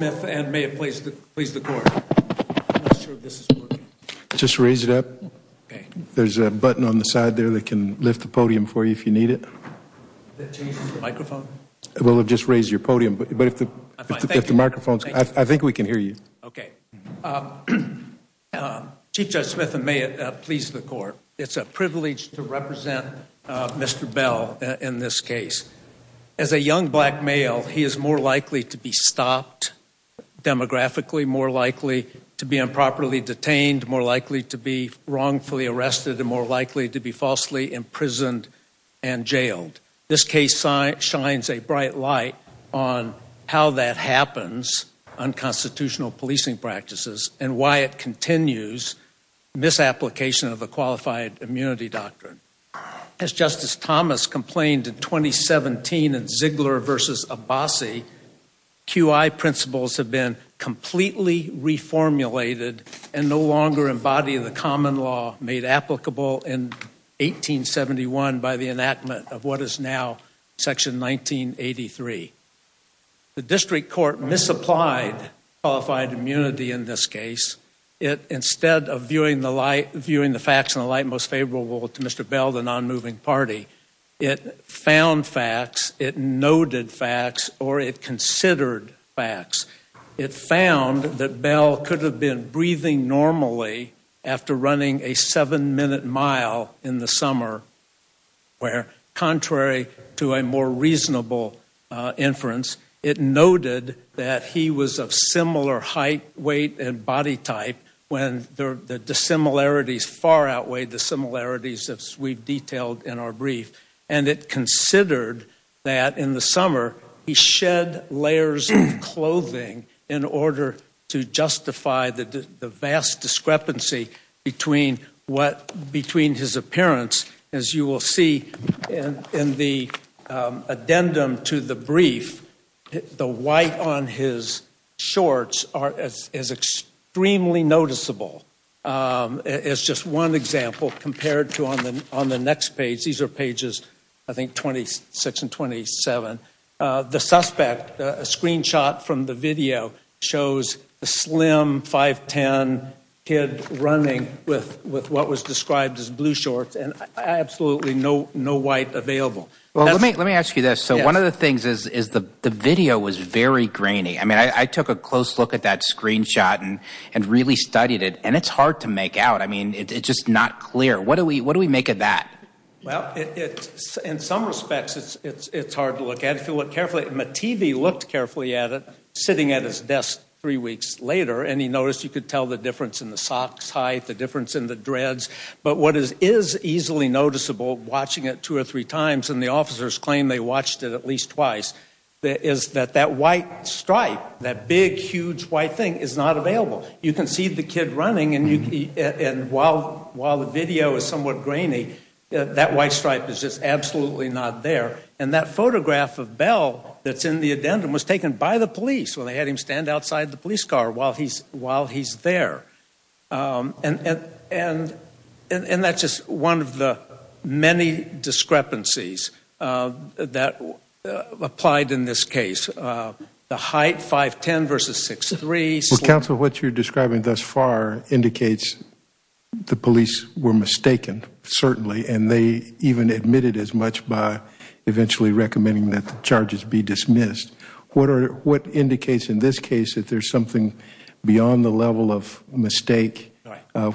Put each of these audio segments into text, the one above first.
Chief Judge Smith and may it please the court, it's a privilege to represent Mr. Bell in this case. As a young black male, he is more likely to be stopped demographically, more likely to be improperly detained, more likely to be wrongfully arrested, and more likely to be falsely imprisoned and jailed. This case shines a bright light on how that happens on constitutional policing practices and why it continues misapplication of the qualified immunity doctrine. As Justice Thomas complained in 2017 in Ziegler v. Abbasi, QI principles have been completely reformulated and no longer embody the common law made applicable in 1871 by the enactment of what is now section 1983. The district court misapplied qualified immunity in this case. Instead of viewing the facts in the light most favorable to Mr. Bell, the non-moving party, it found facts, it noted facts, or it considered facts. It found that Bell could have been breathing normally after running a seven-minute mile in the summer where, contrary to a more reasonable inference, it noted that he was of similar height, weight, and body type when the dissimilarities far outweighed the similarities as we've detailed in our brief. And it considered that in the summer, he shed layers of clothing in order to justify the vast discrepancy between his appearance. As you will see in the addendum to the brief, the white on his shorts are as extremely noticeable as just one example compared to on the next page. These are pages, I think, 26 and 27. The suspect, a screenshot from the video shows a slim 5'10 kid running with what was described as blue shorts and absolutely no white available. Well, let me ask you this. So one of the things is the video was very grainy. I mean, I took a close look at that screenshot and really studied it, and it's hard to make out. I mean, it's just not clear. What do we make of that? Well, in some respects, it's hard to look at. If you look carefully, the TV looked carefully at it sitting at his desk three weeks later, and he noticed you could tell the difference in the socks height, the difference in the dreads. But what is easily noticeable watching it two or three times, and the officers claim they watched it at least twice, is that that white stripe, that big, huge white thing is not available. You can see the kid running, and while the video is somewhat grainy, that white stripe is just absolutely not there. And that photograph of Bell that's in the addendum was taken by the police when they had him stand outside the police car while he's there. And that's just one of the many discrepancies that applied in this case. The height, 5'10 versus 6'3. Well, counsel, what you're describing thus far indicates the police were mistaken, certainly, and they even admitted as much by eventually recommending that the charges be dismissed. What indicates in this case that there's something beyond the level of mistake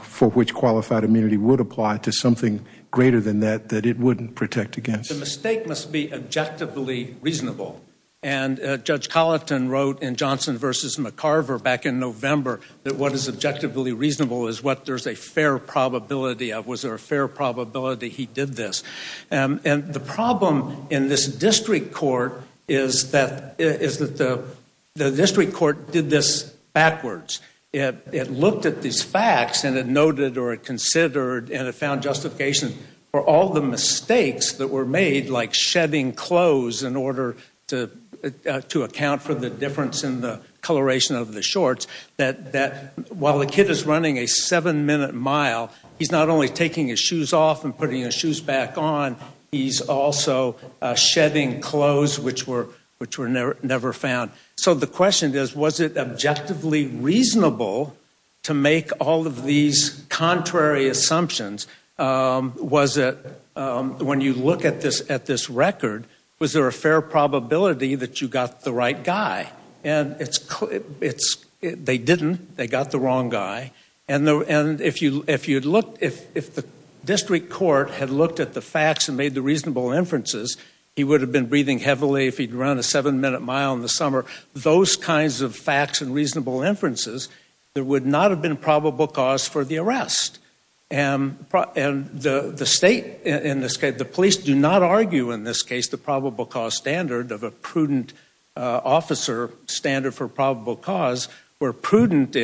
for which qualified immunity would apply to something greater than that that it wouldn't protect against? The mistake must be objectively reasonable. And Judge Colleton wrote in Johnson v. McCarver back in November that what is objectively reasonable is what there's a fair probability of. Was there a fair probability he did this? And the problem in this district court is that the district court did this backwards. It looked at these facts and it noted or it considered and it found justification for all the mistakes that were made, like shedding clothes in order to account for the difference in the coloration of the shorts, that while a kid is running a 7-minute mile, he's not only taking his shoes off and putting his shoes back on, he's also shedding clothes which were never found. So the question is, was it objectively reasonable to make all of these contrary assumptions? Was it when you look at this record, was there a fair probability that you got the right guy? And it's, they didn't. They got the wrong guy. And if you'd looked, if the district court had looked at the facts and made the reasonable inferences, he would have been breathing heavily if he'd run a 7-minute mile in the summer. Those kinds of facts and reasonable inferences, there would not have been probable cause for the arrest. And the state, the police do not look for probable cause where prudent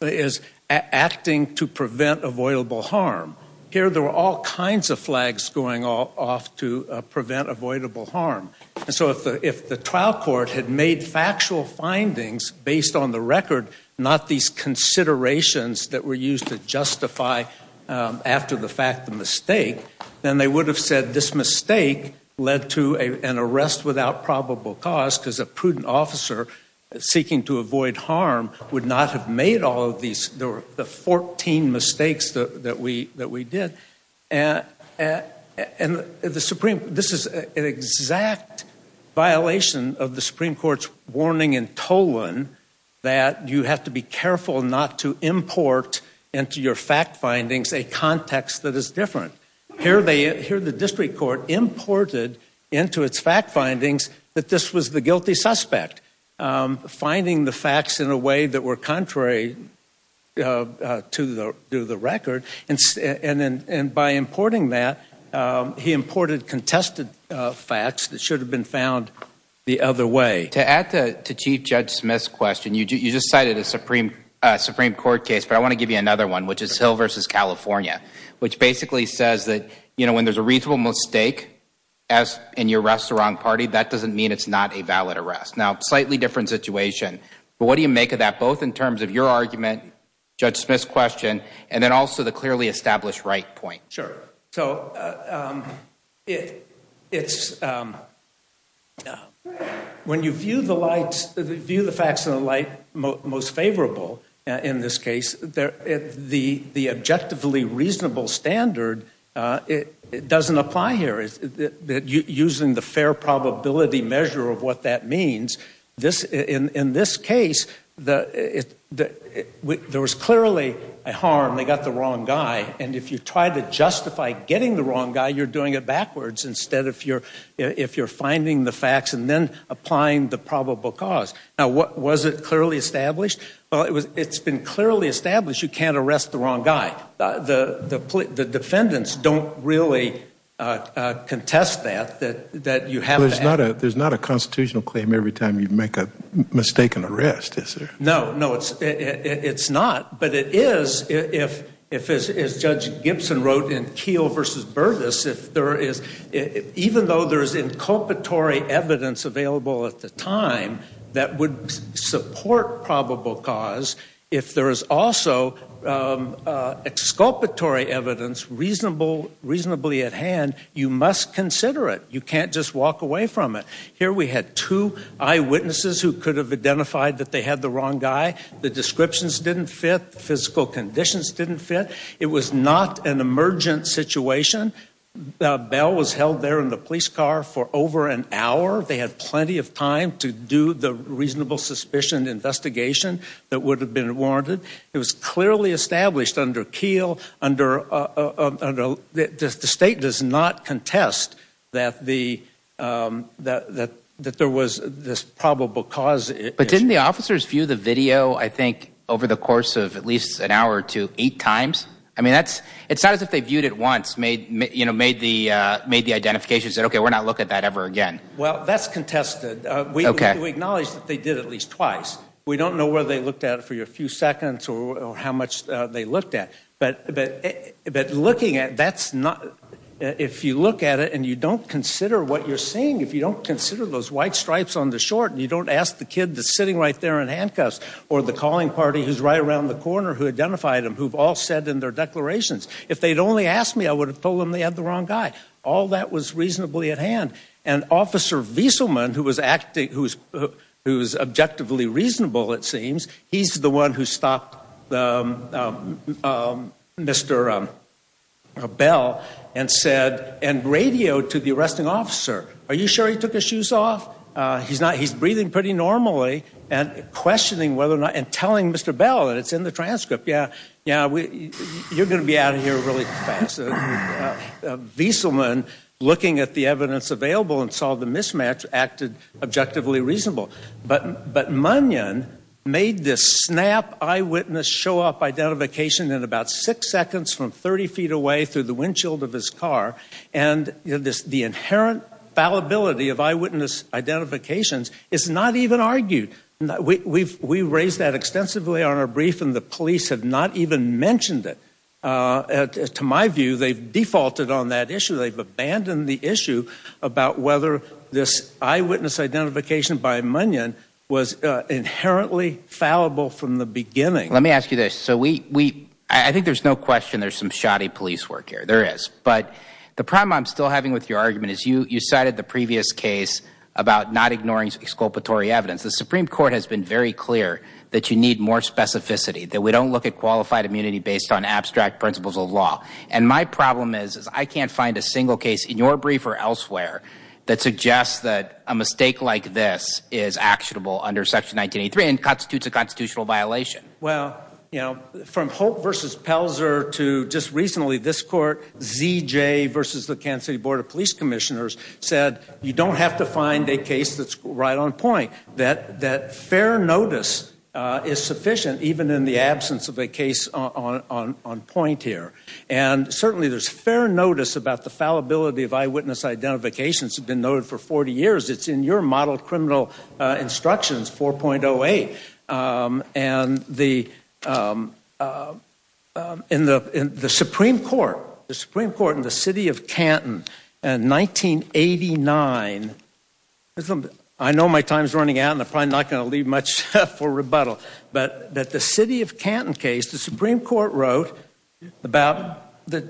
is acting to prevent avoidable harm. Here there were all kinds of flags going off to prevent avoidable harm. So if the trial court had made factual findings based on the record, not these considerations that were used to justify after the fact the mistake, then they would have said this mistake led to an arrest without probable cause because a prudent officer seeking to avoid harm would not have made all of these. There were the 14 mistakes that we did. And the Supreme, this is an exact violation of the Supreme Court's warning in Tolan that you have to be careful not to import into your fact findings a context that is different. Here they, here the district court imported into its fact findings that this was the guilty suspect, finding the facts in a way that were contrary to the record. And by importing that, he imported contested facts that should have been found the other way. To add to Chief Judge Smith's question, you just cited a Supreme Court case, but I want to give you another one, which is Hill v. California, which basically says that when there's a reasonable mistake in your restaurant party, that doesn't mean it's not a valid arrest. Now, slightly different situation. But what do you make of that, both in terms of your argument, Judge Smith's question, and then also the clearly established right point? Sure. So it's, when you view the facts in the light most favorable in this case, the objectively reasonable standard, it doesn't apply here. Using the fair probability measure of what that means, in this case, there was clearly a harm. They got the wrong guy. And if you try to justify getting the wrong guy, you're doing it backwards, instead of if you're finding the facts and then applying the probable cause. Now, was it clearly established? Well, it's been clearly established you can't arrest the wrong guy. The defendants don't really contest that, that you have that. There's not a constitutional claim every time you make a mistaken arrest, is there? No, no, it's not. But it is if, as Judge Gibson wrote in Keel v. Burgess, if there is, even though there's inculpatory evidence available at the time that would support probable cause, if there is also exculpatory evidence reasonably at hand, you must consider it. You can't just walk away from it. Here we had two eyewitnesses who could have identified that they had the wrong guy. The descriptions didn't fit. The physical conditions didn't fit. It was not an emergent situation. Bell was held there in the police car for over an hour. They had plenty of time to do the reasonable suspicion investigation that would have been warranted. It was clearly established under Keel, under, the state does not contest that the, that there was this probable cause issue. But didn't the officers view the video, I think, over the course of at least an hour or two, eight times? I mean, that's, it's not as if they viewed it once, made, you know, made the, made the identification and said, okay, we're not looking at that ever again. Well, that's contested. We acknowledge that they did at least twice. We don't know whether they looked at it for your few seconds or how much they looked at, but, but, but looking at that's not, if you look at it and you don't consider what you're seeing, if you don't consider those white stripes on the short and you don't ask the kid that's sitting right there in handcuffs or the calling party, who's right around the corner, who identified them, who've all said in their declarations, if they'd only asked me, I would have told them they had the wrong guy. All that was reasonably at hand. And officer Vieselman, who was acting, who's, who's objectively reasonable, it seems he's the one who stopped Mr. Bell and said, and radioed to the arresting officer, are you sure he took his shoes off? He's not, he's breathing pretty normally and questioning whether or not, and telling Mr. Bell and it's in the transcript. Yeah. Yeah. You're going to be out of here really fast. Vieselman looking at the evidence available and saw the mismatch acted objectively reasonable, but, but Munyon made this snap eyewitness show up identification in about six seconds from 30 feet away through the windshield of his car. And this, the inherent fallibility of eyewitness identifications is not even argued. We've, we've, we raised that extensively on our brief and the police have not even mentioned it. Uh, to my view, they've defaulted on that issue. They've abandoned the issue about whether this eyewitness identification by Munyon was inherently fallible from the beginning. Let me ask you this. So we, we, I think there's no question there's some shoddy police work here. There is. But the problem I'm still having with your argument is you, you cited the previous case about not ignoring exculpatory evidence. The Supreme Court has been very clear that you need more specificity, that we don't look at qualified immunity based on abstract principles of law. And my problem is, is I can't find a single case in your brief or elsewhere that suggests that a mistake like this is actionable under section 1983 and constitutes a constitutional violation. Well, you know, from Holt versus Pelzer to just recently this court, ZJ versus the Kansas City Board of Police Commissioners said you don't have to find a case that's right on point, that, that fair notice is sufficient even in the absence of a case on, on, on point here. And certainly there's fair notice about the fallibility of eyewitness identifications have been noted for 40 years. It's in your model criminal instructions 4.08. Um, and the, um, um, um, in the, in the, in the, in the Supreme Court, the Supreme Court in the city of Canton and 1989, I know my time's running out and I'm probably not going to leave much for rebuttal, but that the city of Canton case, the Supreme Court wrote about the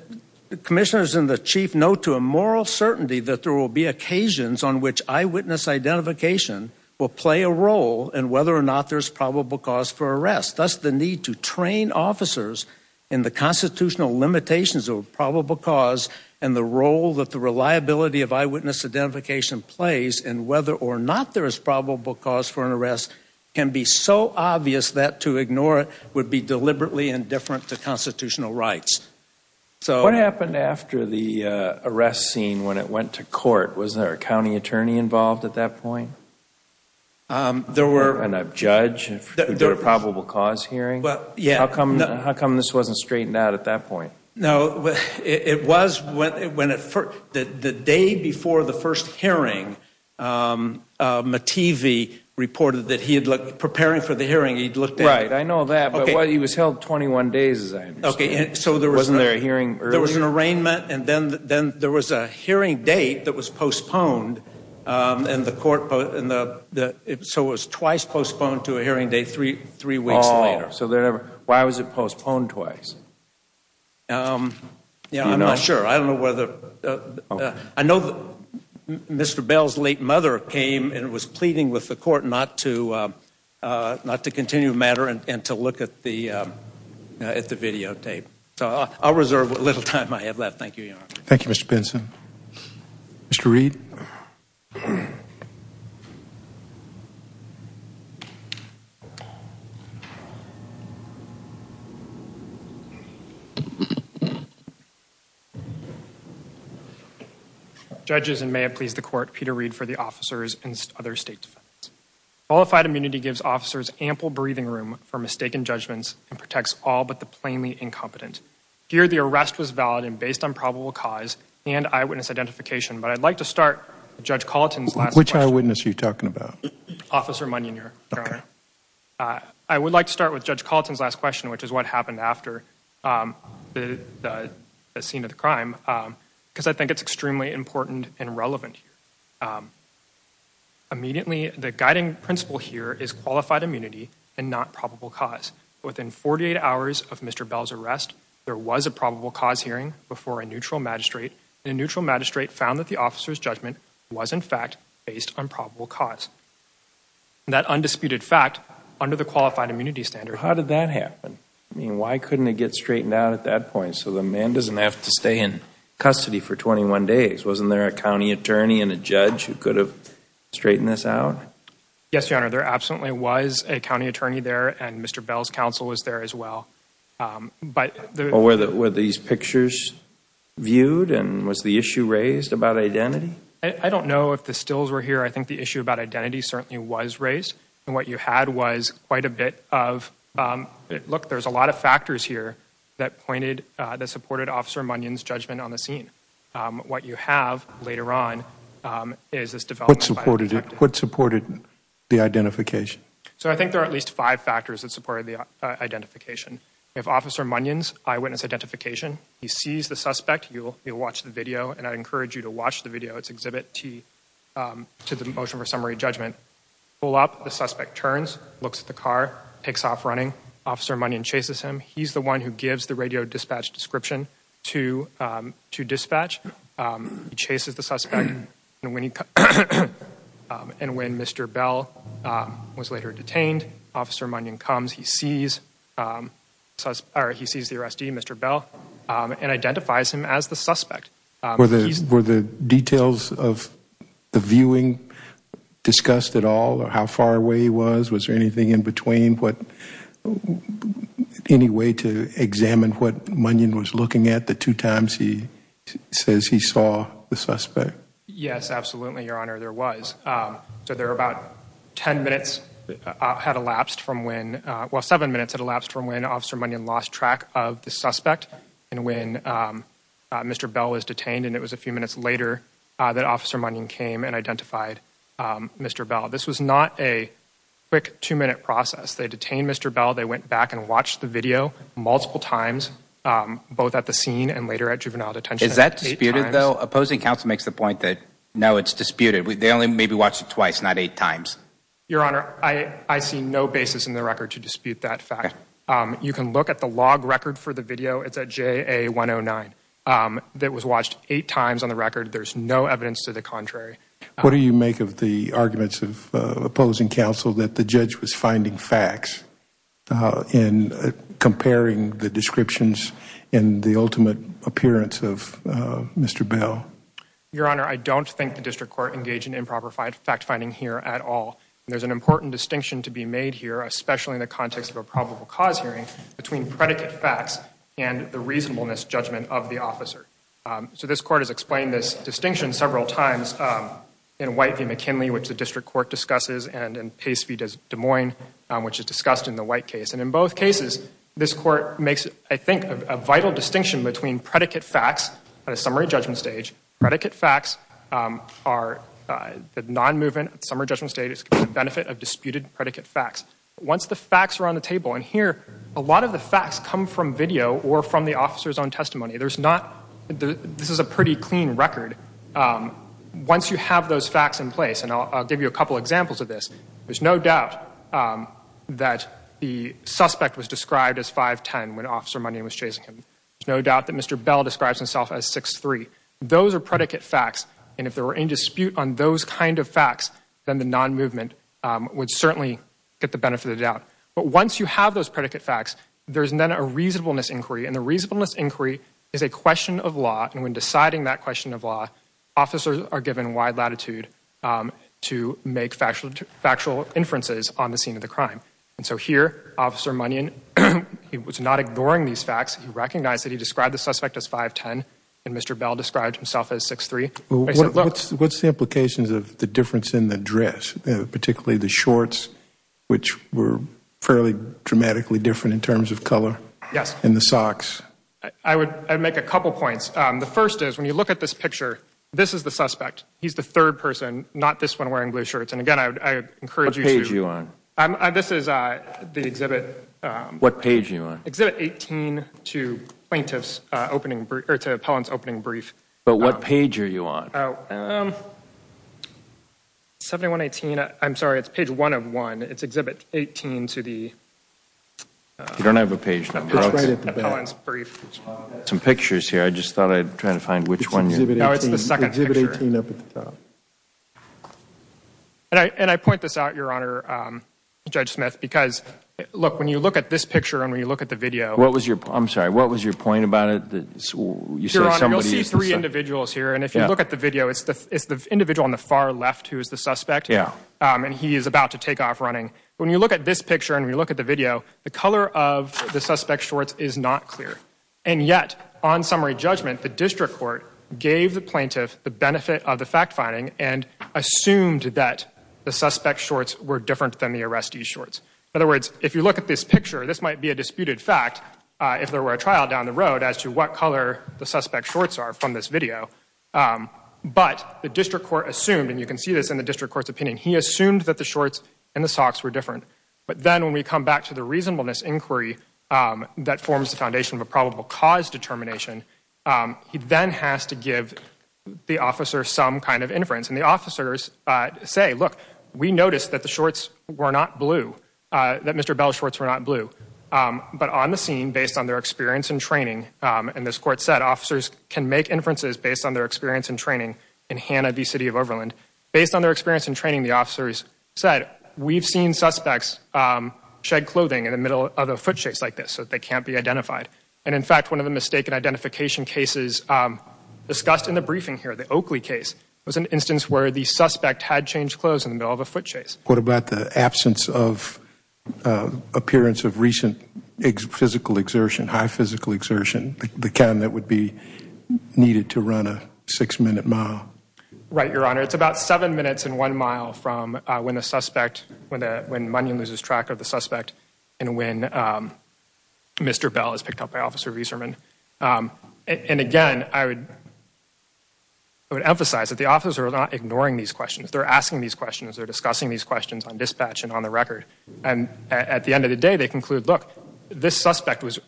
commissioners and the chief note to a moral certainty that there will be occasions on which eyewitness identification will play a role in whether or not there's probable cause for arrest. That's the need to train officers in the constitutional limitations of probable cause and the role that the reliability of eyewitness identification plays and whether or not there is probable cause for an arrest can be so obvious that to ignore it would be deliberately indifferent to constitutional rights. So what happened after the, uh, arrest scene when it went to court, was there a county attorney involved at that point? Um, there were, and a judge, there were probable cause hearing. Well, yeah. How come, how come this wasn't straightened out at that point? No, it was when it, when it first, the day before the first hearing, um, um, a TV reported that he had looked preparing for the hearing. He'd looked at it. I know that, but he was held 21 days as I understand. Okay. So there wasn't there a hearing earlier? There was an arraignment and then, then there was a hearing date that was postponed. Um, and the court and the, so it was twice postponed to a hearing date, three, three weeks later. So they're never, why was it postponed twice? Um, yeah, I'm not sure. I don't know whether, uh, uh, I know that Mr. Bell's late mother came and was pleading with the court not to, uh, uh, not to continue the matter and to look at the, um, uh, at the videotape. So I'll reserve what little time I have left. Thank you, Your Honor. Thank you, Mr. Benson. Mr. Reed. Um, judges and may have pleased the court, Peter Reed for the officers and other state defense. Qualified immunity gives officers ample breathing room for mistaken judgments and protects all but the plainly incompetent. Here, the arrest was valid and based on probable cause and eyewitness identification. But I'd like to start with Judge Colleton's last question. What eyewitness are you talking about? Officer Munion, Your Honor. Uh, I would like to start with Judge Colleton's last question, which is what happened after, um, the, the scene of the crime. Um, cause I think it's extremely important and relevant here. Um, immediately the guiding principle here is qualified immunity and not probable cause. Within 48 hours of Mr. Bell's arrest, there was a probable cause hearing before a neutral magistrate and neutral magistrate found that the officer's judgment was in fact based on probable cause. That undisputed fact under the qualified immunity standard. How did that happen? I mean, why couldn't it get straightened out at that point? So the man doesn't have to stay in custody for 21 days. Wasn't there a county attorney and a judge who could have straightened this out? Yes, Your Honor. There absolutely was a county attorney there and Mr. Bell's counsel was there as well. Um, but there were the, were these pictures viewed and was the issue raised about identity? I don't know if the stills were here. I think the issue about identity certainly was raised and what you had was quite a bit of, um, look, there's a lot of factors here that pointed, uh, that supported officer Munion's judgment on the scene. Um, what you have later on, um, is this development. What supported, what supported the identification? So I think there are at least five factors that supported the, uh, identification. We have officer Munion's eyewitness identification. He sees the suspect. You'll, you'll watch the video and I encourage you to watch the video. It's exhibit T, um, to the motion for summary judgment. Pull up, the suspect turns, looks at the car, takes off running. Officer Munion chases him. He's the one who gives the radio dispatch description to, um, to dispatch. Um, he chases the suspect and when he, um, and when Mr. Bell, um, was arrested, um, he sees, um, or he sees the arrestee, Mr. Bell, um, and identifies him as the suspect. Were the, were the details of the viewing discussed at all or how far away he was? Was there anything in between what, any way to examine what Munion was looking at the two times he says he saw the suspect? Yes, absolutely. Your honor, there was, um, so there were about 10 minutes, uh, had elapsed from when, uh, well, seven minutes had elapsed from when officer Munion lost track of the suspect and when, um, uh, Mr. Bell was detained and it was a few minutes later, uh, that officer Munion came and identified, um, Mr. Bell. This was not a quick two minute process. They detained Mr. Bell. They went back and watched the video multiple times, um, both at the scene and later at juvenile detention. Is that disputed though? Opposing counsel makes the point that no, it's disputed. They only maybe watched it twice, not eight times. Your honor, I, I see no basis in the record to dispute that fact. Um, you can look at the log record for the video. It's at JA 109, um, that was watched eight times on the record. There's no evidence to the contrary. What do you make of the arguments of, uh, opposing counsel that the judge was finding facts, uh, in comparing the descriptions in the ultimate appearance of, uh, Mr. Bell? Your honor, I don't think the district court engaged in improper fact finding here at all. And there's an important distinction to be made here, especially in the context of a probable cause hearing between predicate facts and the reasonableness judgment of the officer. Um, so this court has explained this distinction several times, um, in White v. McKinley, which the district court discusses and in Pace v. Des Moines, um, which is discussed in the White case. And in both cases, this court makes, I think, a vital distinction between predicate facts at a summary judgment stage. Predicate facts, um, are, uh, the non-movement at the summary judgment stage is the benefit of disputed predicate facts. Once the facts are on the table, and here, a lot of the facts come from video or from the officer's own testimony. There's not, this is a pretty clean record. Um, once you have those facts in place, and I'll, I'll give you a couple examples of this, there's no doubt, um, that the suspect was described as 5'10 when Officer Money was chasing him. There's no doubt that Mr. Bell describes himself as 6'3. Those are predicate facts, and if there were any dispute on those kind of facts, then the non-movement, um, would certainly get the benefit of the doubt. But once you have those predicate facts, there's then a reasonableness inquiry, and the reasonableness inquiry is a question of law, and when deciding that question of law, officers are given wide latitude, um, to make factual, factual inferences on the scene of the crime. And so here, Officer Money, and he was not ignoring these facts. He recognized that he described the suspect as 5'10, and Mr. Bell described himself as 6'3. What's, what's the implications of the difference in the dress, particularly the shorts, which were fairly dramatically different in terms of color? Yes. And the socks? I would, I'd make a couple points. Um, the first is, when you look at this picture, this is the suspect. He's the third person, not this one wearing blue shirts. And again, I'd, I'd encourage you to What page are you on? I'm, I, this is, uh, the exhibit, um What page are you on? Exhibit 18 to plaintiff's, uh, opening brief, or to appellant's opening brief. But what page are you on? Oh, um, 7118, I'm sorry, it's page 101. It's exhibit 18 to the, uh You don't have a page number. It's right at the back. Appellant's brief. I've got some pictures here. I just thought I'd try to find which one you're It's exhibit 18. No, it's the second picture. Exhibit 18 up at the top. And I, and I point this out, Your Honor, um, Judge Smith, because, look, when you look at this picture and when you look at the video What was your, I'm sorry, what was your point about it that you said somebody Your Honor, you'll see three individuals here, and if you look at the video, it's the, it's the individual on the far left who is the suspect. Yeah. Um, and he is about to take off running. When you look at this picture and you look at the video, the color of the suspect's shorts is not clear. And yet, on summary judgment, the district court gave the plaintiff the benefit of the shorts. In other words, if you look at this picture, this might be a disputed fact if there were a trial down the road as to what color the suspect's shorts are from this video. But the district court assumed, and you can see this in the district court's opinion, he assumed that the shorts and the socks were different. But then when we come back to the reasonableness inquiry that forms the foundation of a probable cause determination, he then has to give the officer some kind of inference. And the officers say, look, we noticed that the shorts were not blue, that Mr. Bell's shorts were not blue. But on the scene, based on their experience and training, and this court said officers can make inferences based on their experience and training in Hanna v. City of Overland. Based on their experience and training, the officers said, we've seen suspects shed clothing in the middle of a foot chase like this, so they can't be identified. And in fact, one of the mistaken identification cases discussed in the briefing here, the case where the suspect had changed clothes in the middle of a foot chase. What about the absence of appearance of recent physical exertion, high physical exertion, the kind that would be needed to run a six-minute mile? Right, Your Honor. It's about seven minutes and one mile from when the suspect, when Munion loses track of the suspect and when Mr. Bell is picked up by Officer Reeserman. And again, I would emphasize that the officers are not ignoring these questions. They're asking these questions. They're discussing these questions on dispatch and on the record. And at the end of the day, they conclude, look, this suspect was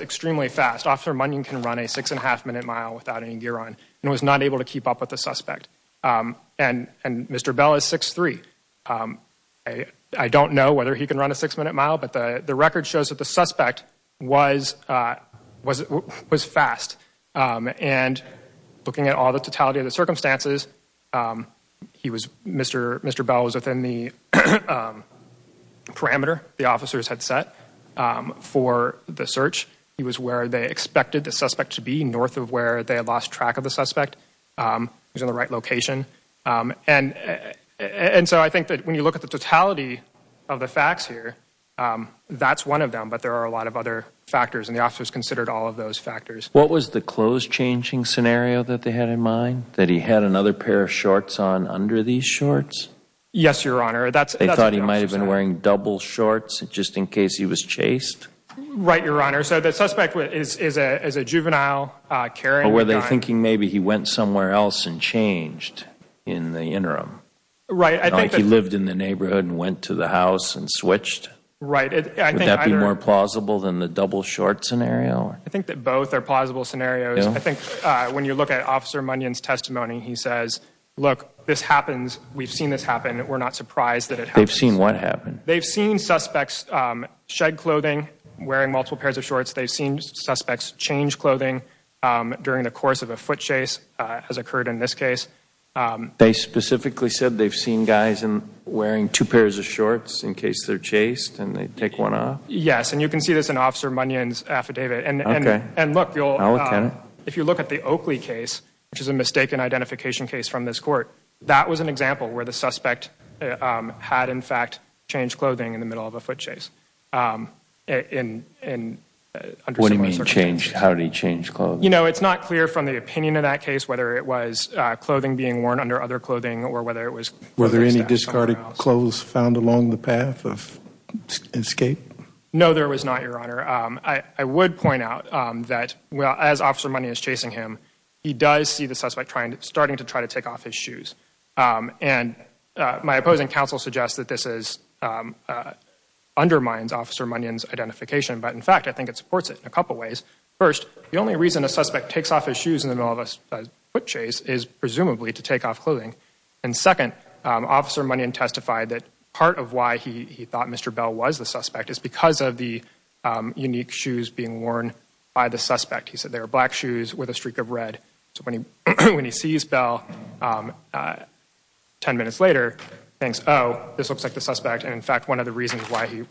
extremely fast. Officer Munion can run a six-and-a-half-minute mile without any gear on and was not able to keep up with the suspect. And Mr. Bell is 6'3". I don't know whether he can run a six-minute mile, but the record shows that the suspect was fast. And looking at all the totality of the circumstances, Mr. Bell was within the parameter the officers had set for the search. He was where they expected the suspect to be, north of where they had lost track of the suspect. He was in the right location. And so I think that when you look at the totality of the facts here, that's one of them, but there are a lot of other factors, and the officers considered all of those factors. What was the clothes-changing scenario that they had in mind? That he had another pair of shorts on under these shorts? Yes, Your Honor. They thought he might have been wearing double shorts just in case he was chased? Right, Your Honor. So the suspect is a juvenile carrying a gun. Or were they thinking maybe he went somewhere else and changed in the interim? Right. Like he lived in the neighborhood and went to the house and switched? Right. Would that be more plausible than the double shorts scenario? I think that both are plausible scenarios. I think when you look at Officer Munyon's testimony, he says, look, this happens. We've seen this happen. We're not surprised that it happens. They've seen what happen? They've seen suspects shed clothing, wearing multiple pairs of shorts. They've seen suspects change clothing during the course of a foot chase, as occurred in this case. They specifically said they've seen guys wearing two pairs of shorts in case they're chased, and they take one off? Yes. And you can see this in Officer Munyon's affidavit. And look, if you look at the Oakley case, which is a mistaken identification case from this court, that was an example where the suspect had, in fact, changed clothing in the middle of a foot chase. What do you mean changed? How did he change clothes? You know, it's not clear from the opinion of that case whether it was clothing being worn under other clothing or whether it was... found along the path of escape? No, there was not, Your Honor. I would point out that, well, as Officer Munyon is chasing him, he does see the suspect starting to try to take off his shoes. And my opposing counsel suggests that this undermines Officer Munyon's identification. But in fact, I think it supports it in a couple ways. First, the only reason a suspect takes off his shoes in the middle of a foot chase is presumably to take off clothing. And second, Officer Munyon testified that part of why he thought Mr. Bell was the suspect is because of the unique shoes being worn by the suspect. He said they were black shoes with a streak of red. So when he sees Bell 10 minutes later, thinks, oh, this looks like the suspect. And in fact, one of the reasons why he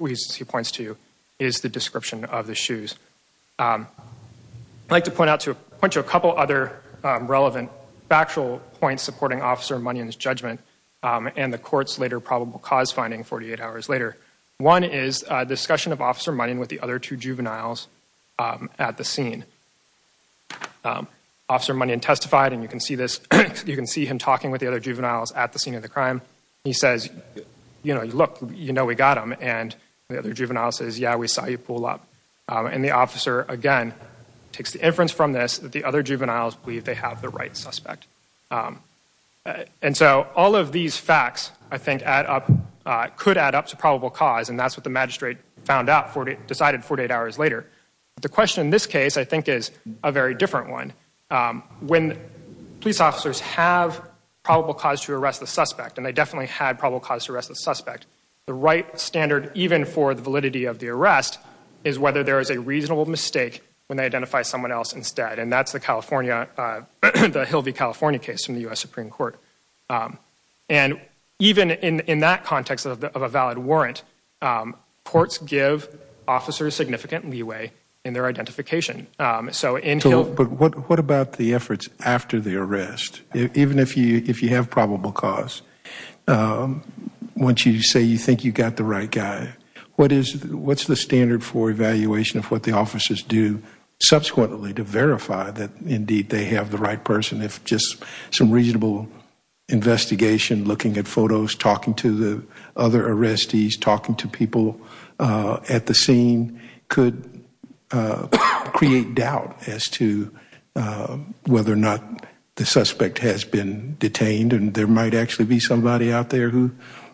points to is the description of the shoes. I'd like to point out to a couple other relevant factual points supporting Officer Munyon's judgment and the court's later probable cause finding 48 hours later. One is a discussion of Officer Munyon with the other two juveniles at the scene. Officer Munyon testified, and you can see this, you can see him talking with the other juveniles at the scene of the crime. He says, you know, look, you know, we got him. And the other juvenile says, yeah, we saw you pull up. And the officer, again, takes the inference from this that the other juveniles believe they have the right suspect. And so all of these facts, I think, could add up to probable cause. And that's what the magistrate found out, decided 48 hours later. The question in this case, I think, is a very different one. When police officers have probable cause to arrest the suspect, and they definitely had probable cause to arrest the suspect, the right standard, even for the validity of the arrest, is whether there is a reasonable mistake when they identify someone else instead. And that's the California, the Hill v. California case from the U.S. Supreme Court. And even in that context of a valid warrant, courts give officers significant leeway in their identification. So in Hill... But what about the efforts after the arrest? Even if you have probable cause, once you say you think you got the right guy, what's the standard for evaluation of what the officers do subsequently to verify that, indeed, they have the right person? If just some reasonable investigation, looking at photos, talking to the other arrestees, talking to people at the scene could create doubt as to whether or not the suspect has been detained and there might actually be somebody out there who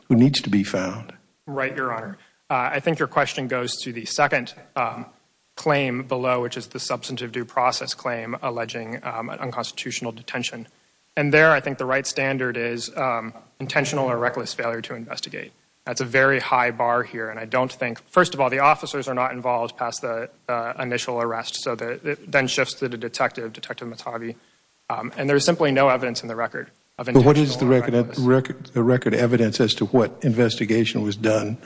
needs to be found. Right, Your Honor. I think your question goes to the second claim below, which is the substantive due process claim alleging unconstitutional detention. And there, I think the right standard is intentional or reckless failure to investigate. That's a very high bar here. And I don't think... First of all, the officers are not involved past the initial arrest. So that then shifts to the detective, Detective Matavi. And there's simply no evidence in the record of intentional or reckless... But what is the record evidence as to what investigation was done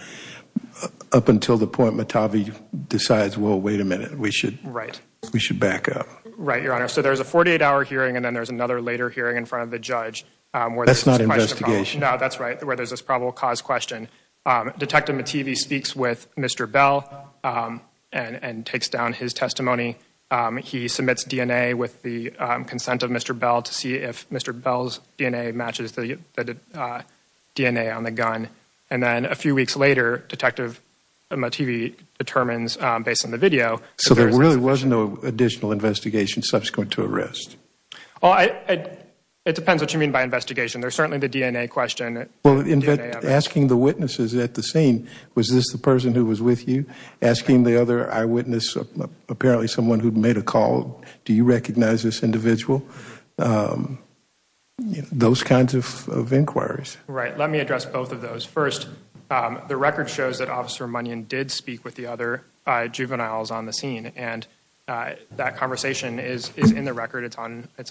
up until the point Matavi decides, well, wait a minute, we should back up? Right, Your Honor. So there's a 48-hour hearing and then there's another later hearing in front of the judge... That's not investigation. No, that's right, where there's this probable cause question. Detective Matavi speaks with Mr. Bell and takes down his testimony. He submits DNA with the consent of Mr. Bell to see if Mr. Bell's DNA matches the DNA on the gun. And then a few weeks later, Detective Matavi determines, based on the video... So there really was no additional investigation subsequent to arrest? Well, it depends what you mean by investigation. There's certainly the DNA question. Well, asking the witnesses at the scene, was this the person who was with you? Asking the other eyewitness, apparently someone who'd made a call, do you recognize this individual? Those kinds of inquiries. Right, let me address both of those. First, the record shows that Officer Munyon did speak with the other juveniles on the scene, and that conversation is in the record, it's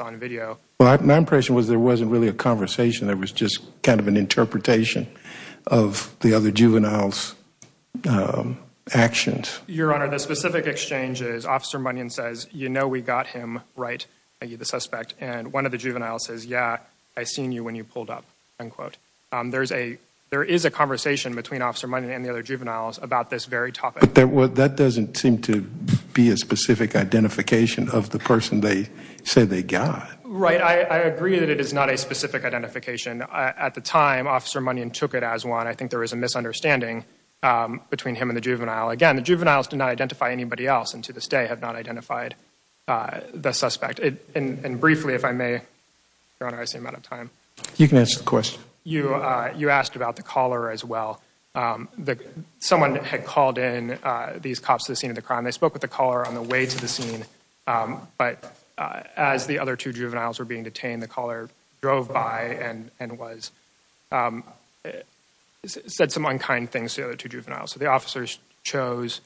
on video. Well, my impression was there wasn't really a conversation, there was just kind of an interpretation of the other juveniles' actions. Your Honor, the specific exchange is Officer Munyon says, you know we got him right, the suspect, and one of the juveniles says, yeah, I seen you when you pulled up, end quote. There is a conversation between Officer Munyon and the other juveniles about this very topic. But that doesn't seem to be a specific identification of the person they say they got. Right, I agree that it is not a specific identification. At the time, Officer Munyon took it as one. I think there was a misunderstanding between him and the juvenile. Again, the juveniles did not identify anybody else, and to this day have not identified the suspect. And briefly, if I may, Your Honor, I seem out of time. You can answer the question. You asked about the caller as well. Someone had called in these cops to the scene of the crime, they spoke with the caller on the way to the scene, but as the other two juveniles were being detained, the caller drove by and said some unkind things to the other two juveniles. So the officers chose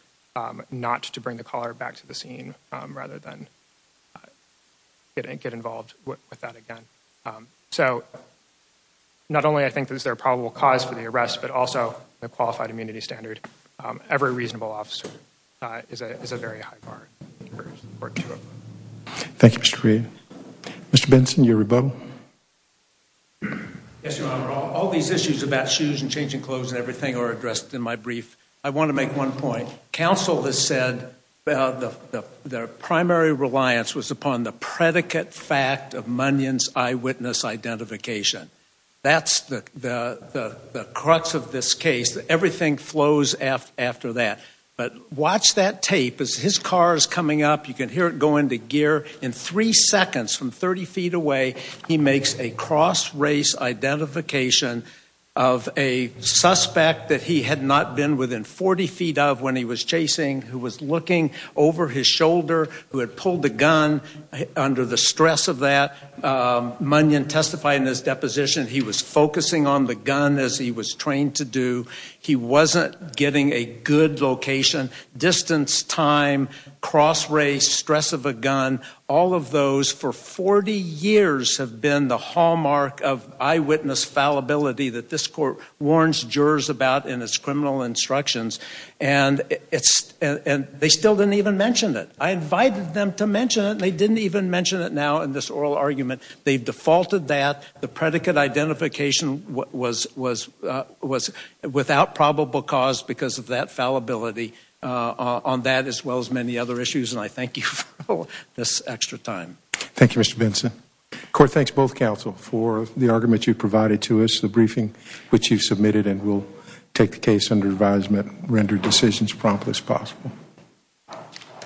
not to bring the caller back to the scene rather than get involved with that again. So not only I think is there a probable cause for the arrest, but also the qualified immunity standard, every reasonable officer is a very high bar for two of them. Thank you, Mr. Reed. Mr. Benson, you're rebuttal. Yes, Your Honor, all these issues about shoes and changing clothes and everything are addressed in my brief. I want to make one point. Counsel has said the primary reliance was upon the predicate fact of Munyon's eyewitness identification. That's the crux of this case. Everything flows after that. But watch that tape. As his car is coming up, you can hear it go into gear. In three seconds from 30 feet away, he makes a cross-race identification of a suspect that he had not been within 40 feet of when he was chasing, who was looking over his shoulder, who had pulled the gun under the stress of that. Munyon testified in his deposition, he was focusing on the gun as he was trained to do. He wasn't getting a good location. Distance, time, cross-race, stress of a gun, all of those for 40 years have been the hallmark of eyewitness fallibility that this court warns jurors about in its criminal instructions, and they still didn't even mention it. I invited them to mention it, and they didn't even mention it now in this oral argument. They've defaulted that. The predicate identification was without probable cause because of that fallibility on that as well as many other issues, and I thank you for this extra time. Thank you, Mr. Benson. Court, thanks both counsel for the argument you provided to us, which you submitted, and we'll take the case under advisement, render decisions prompt as possible.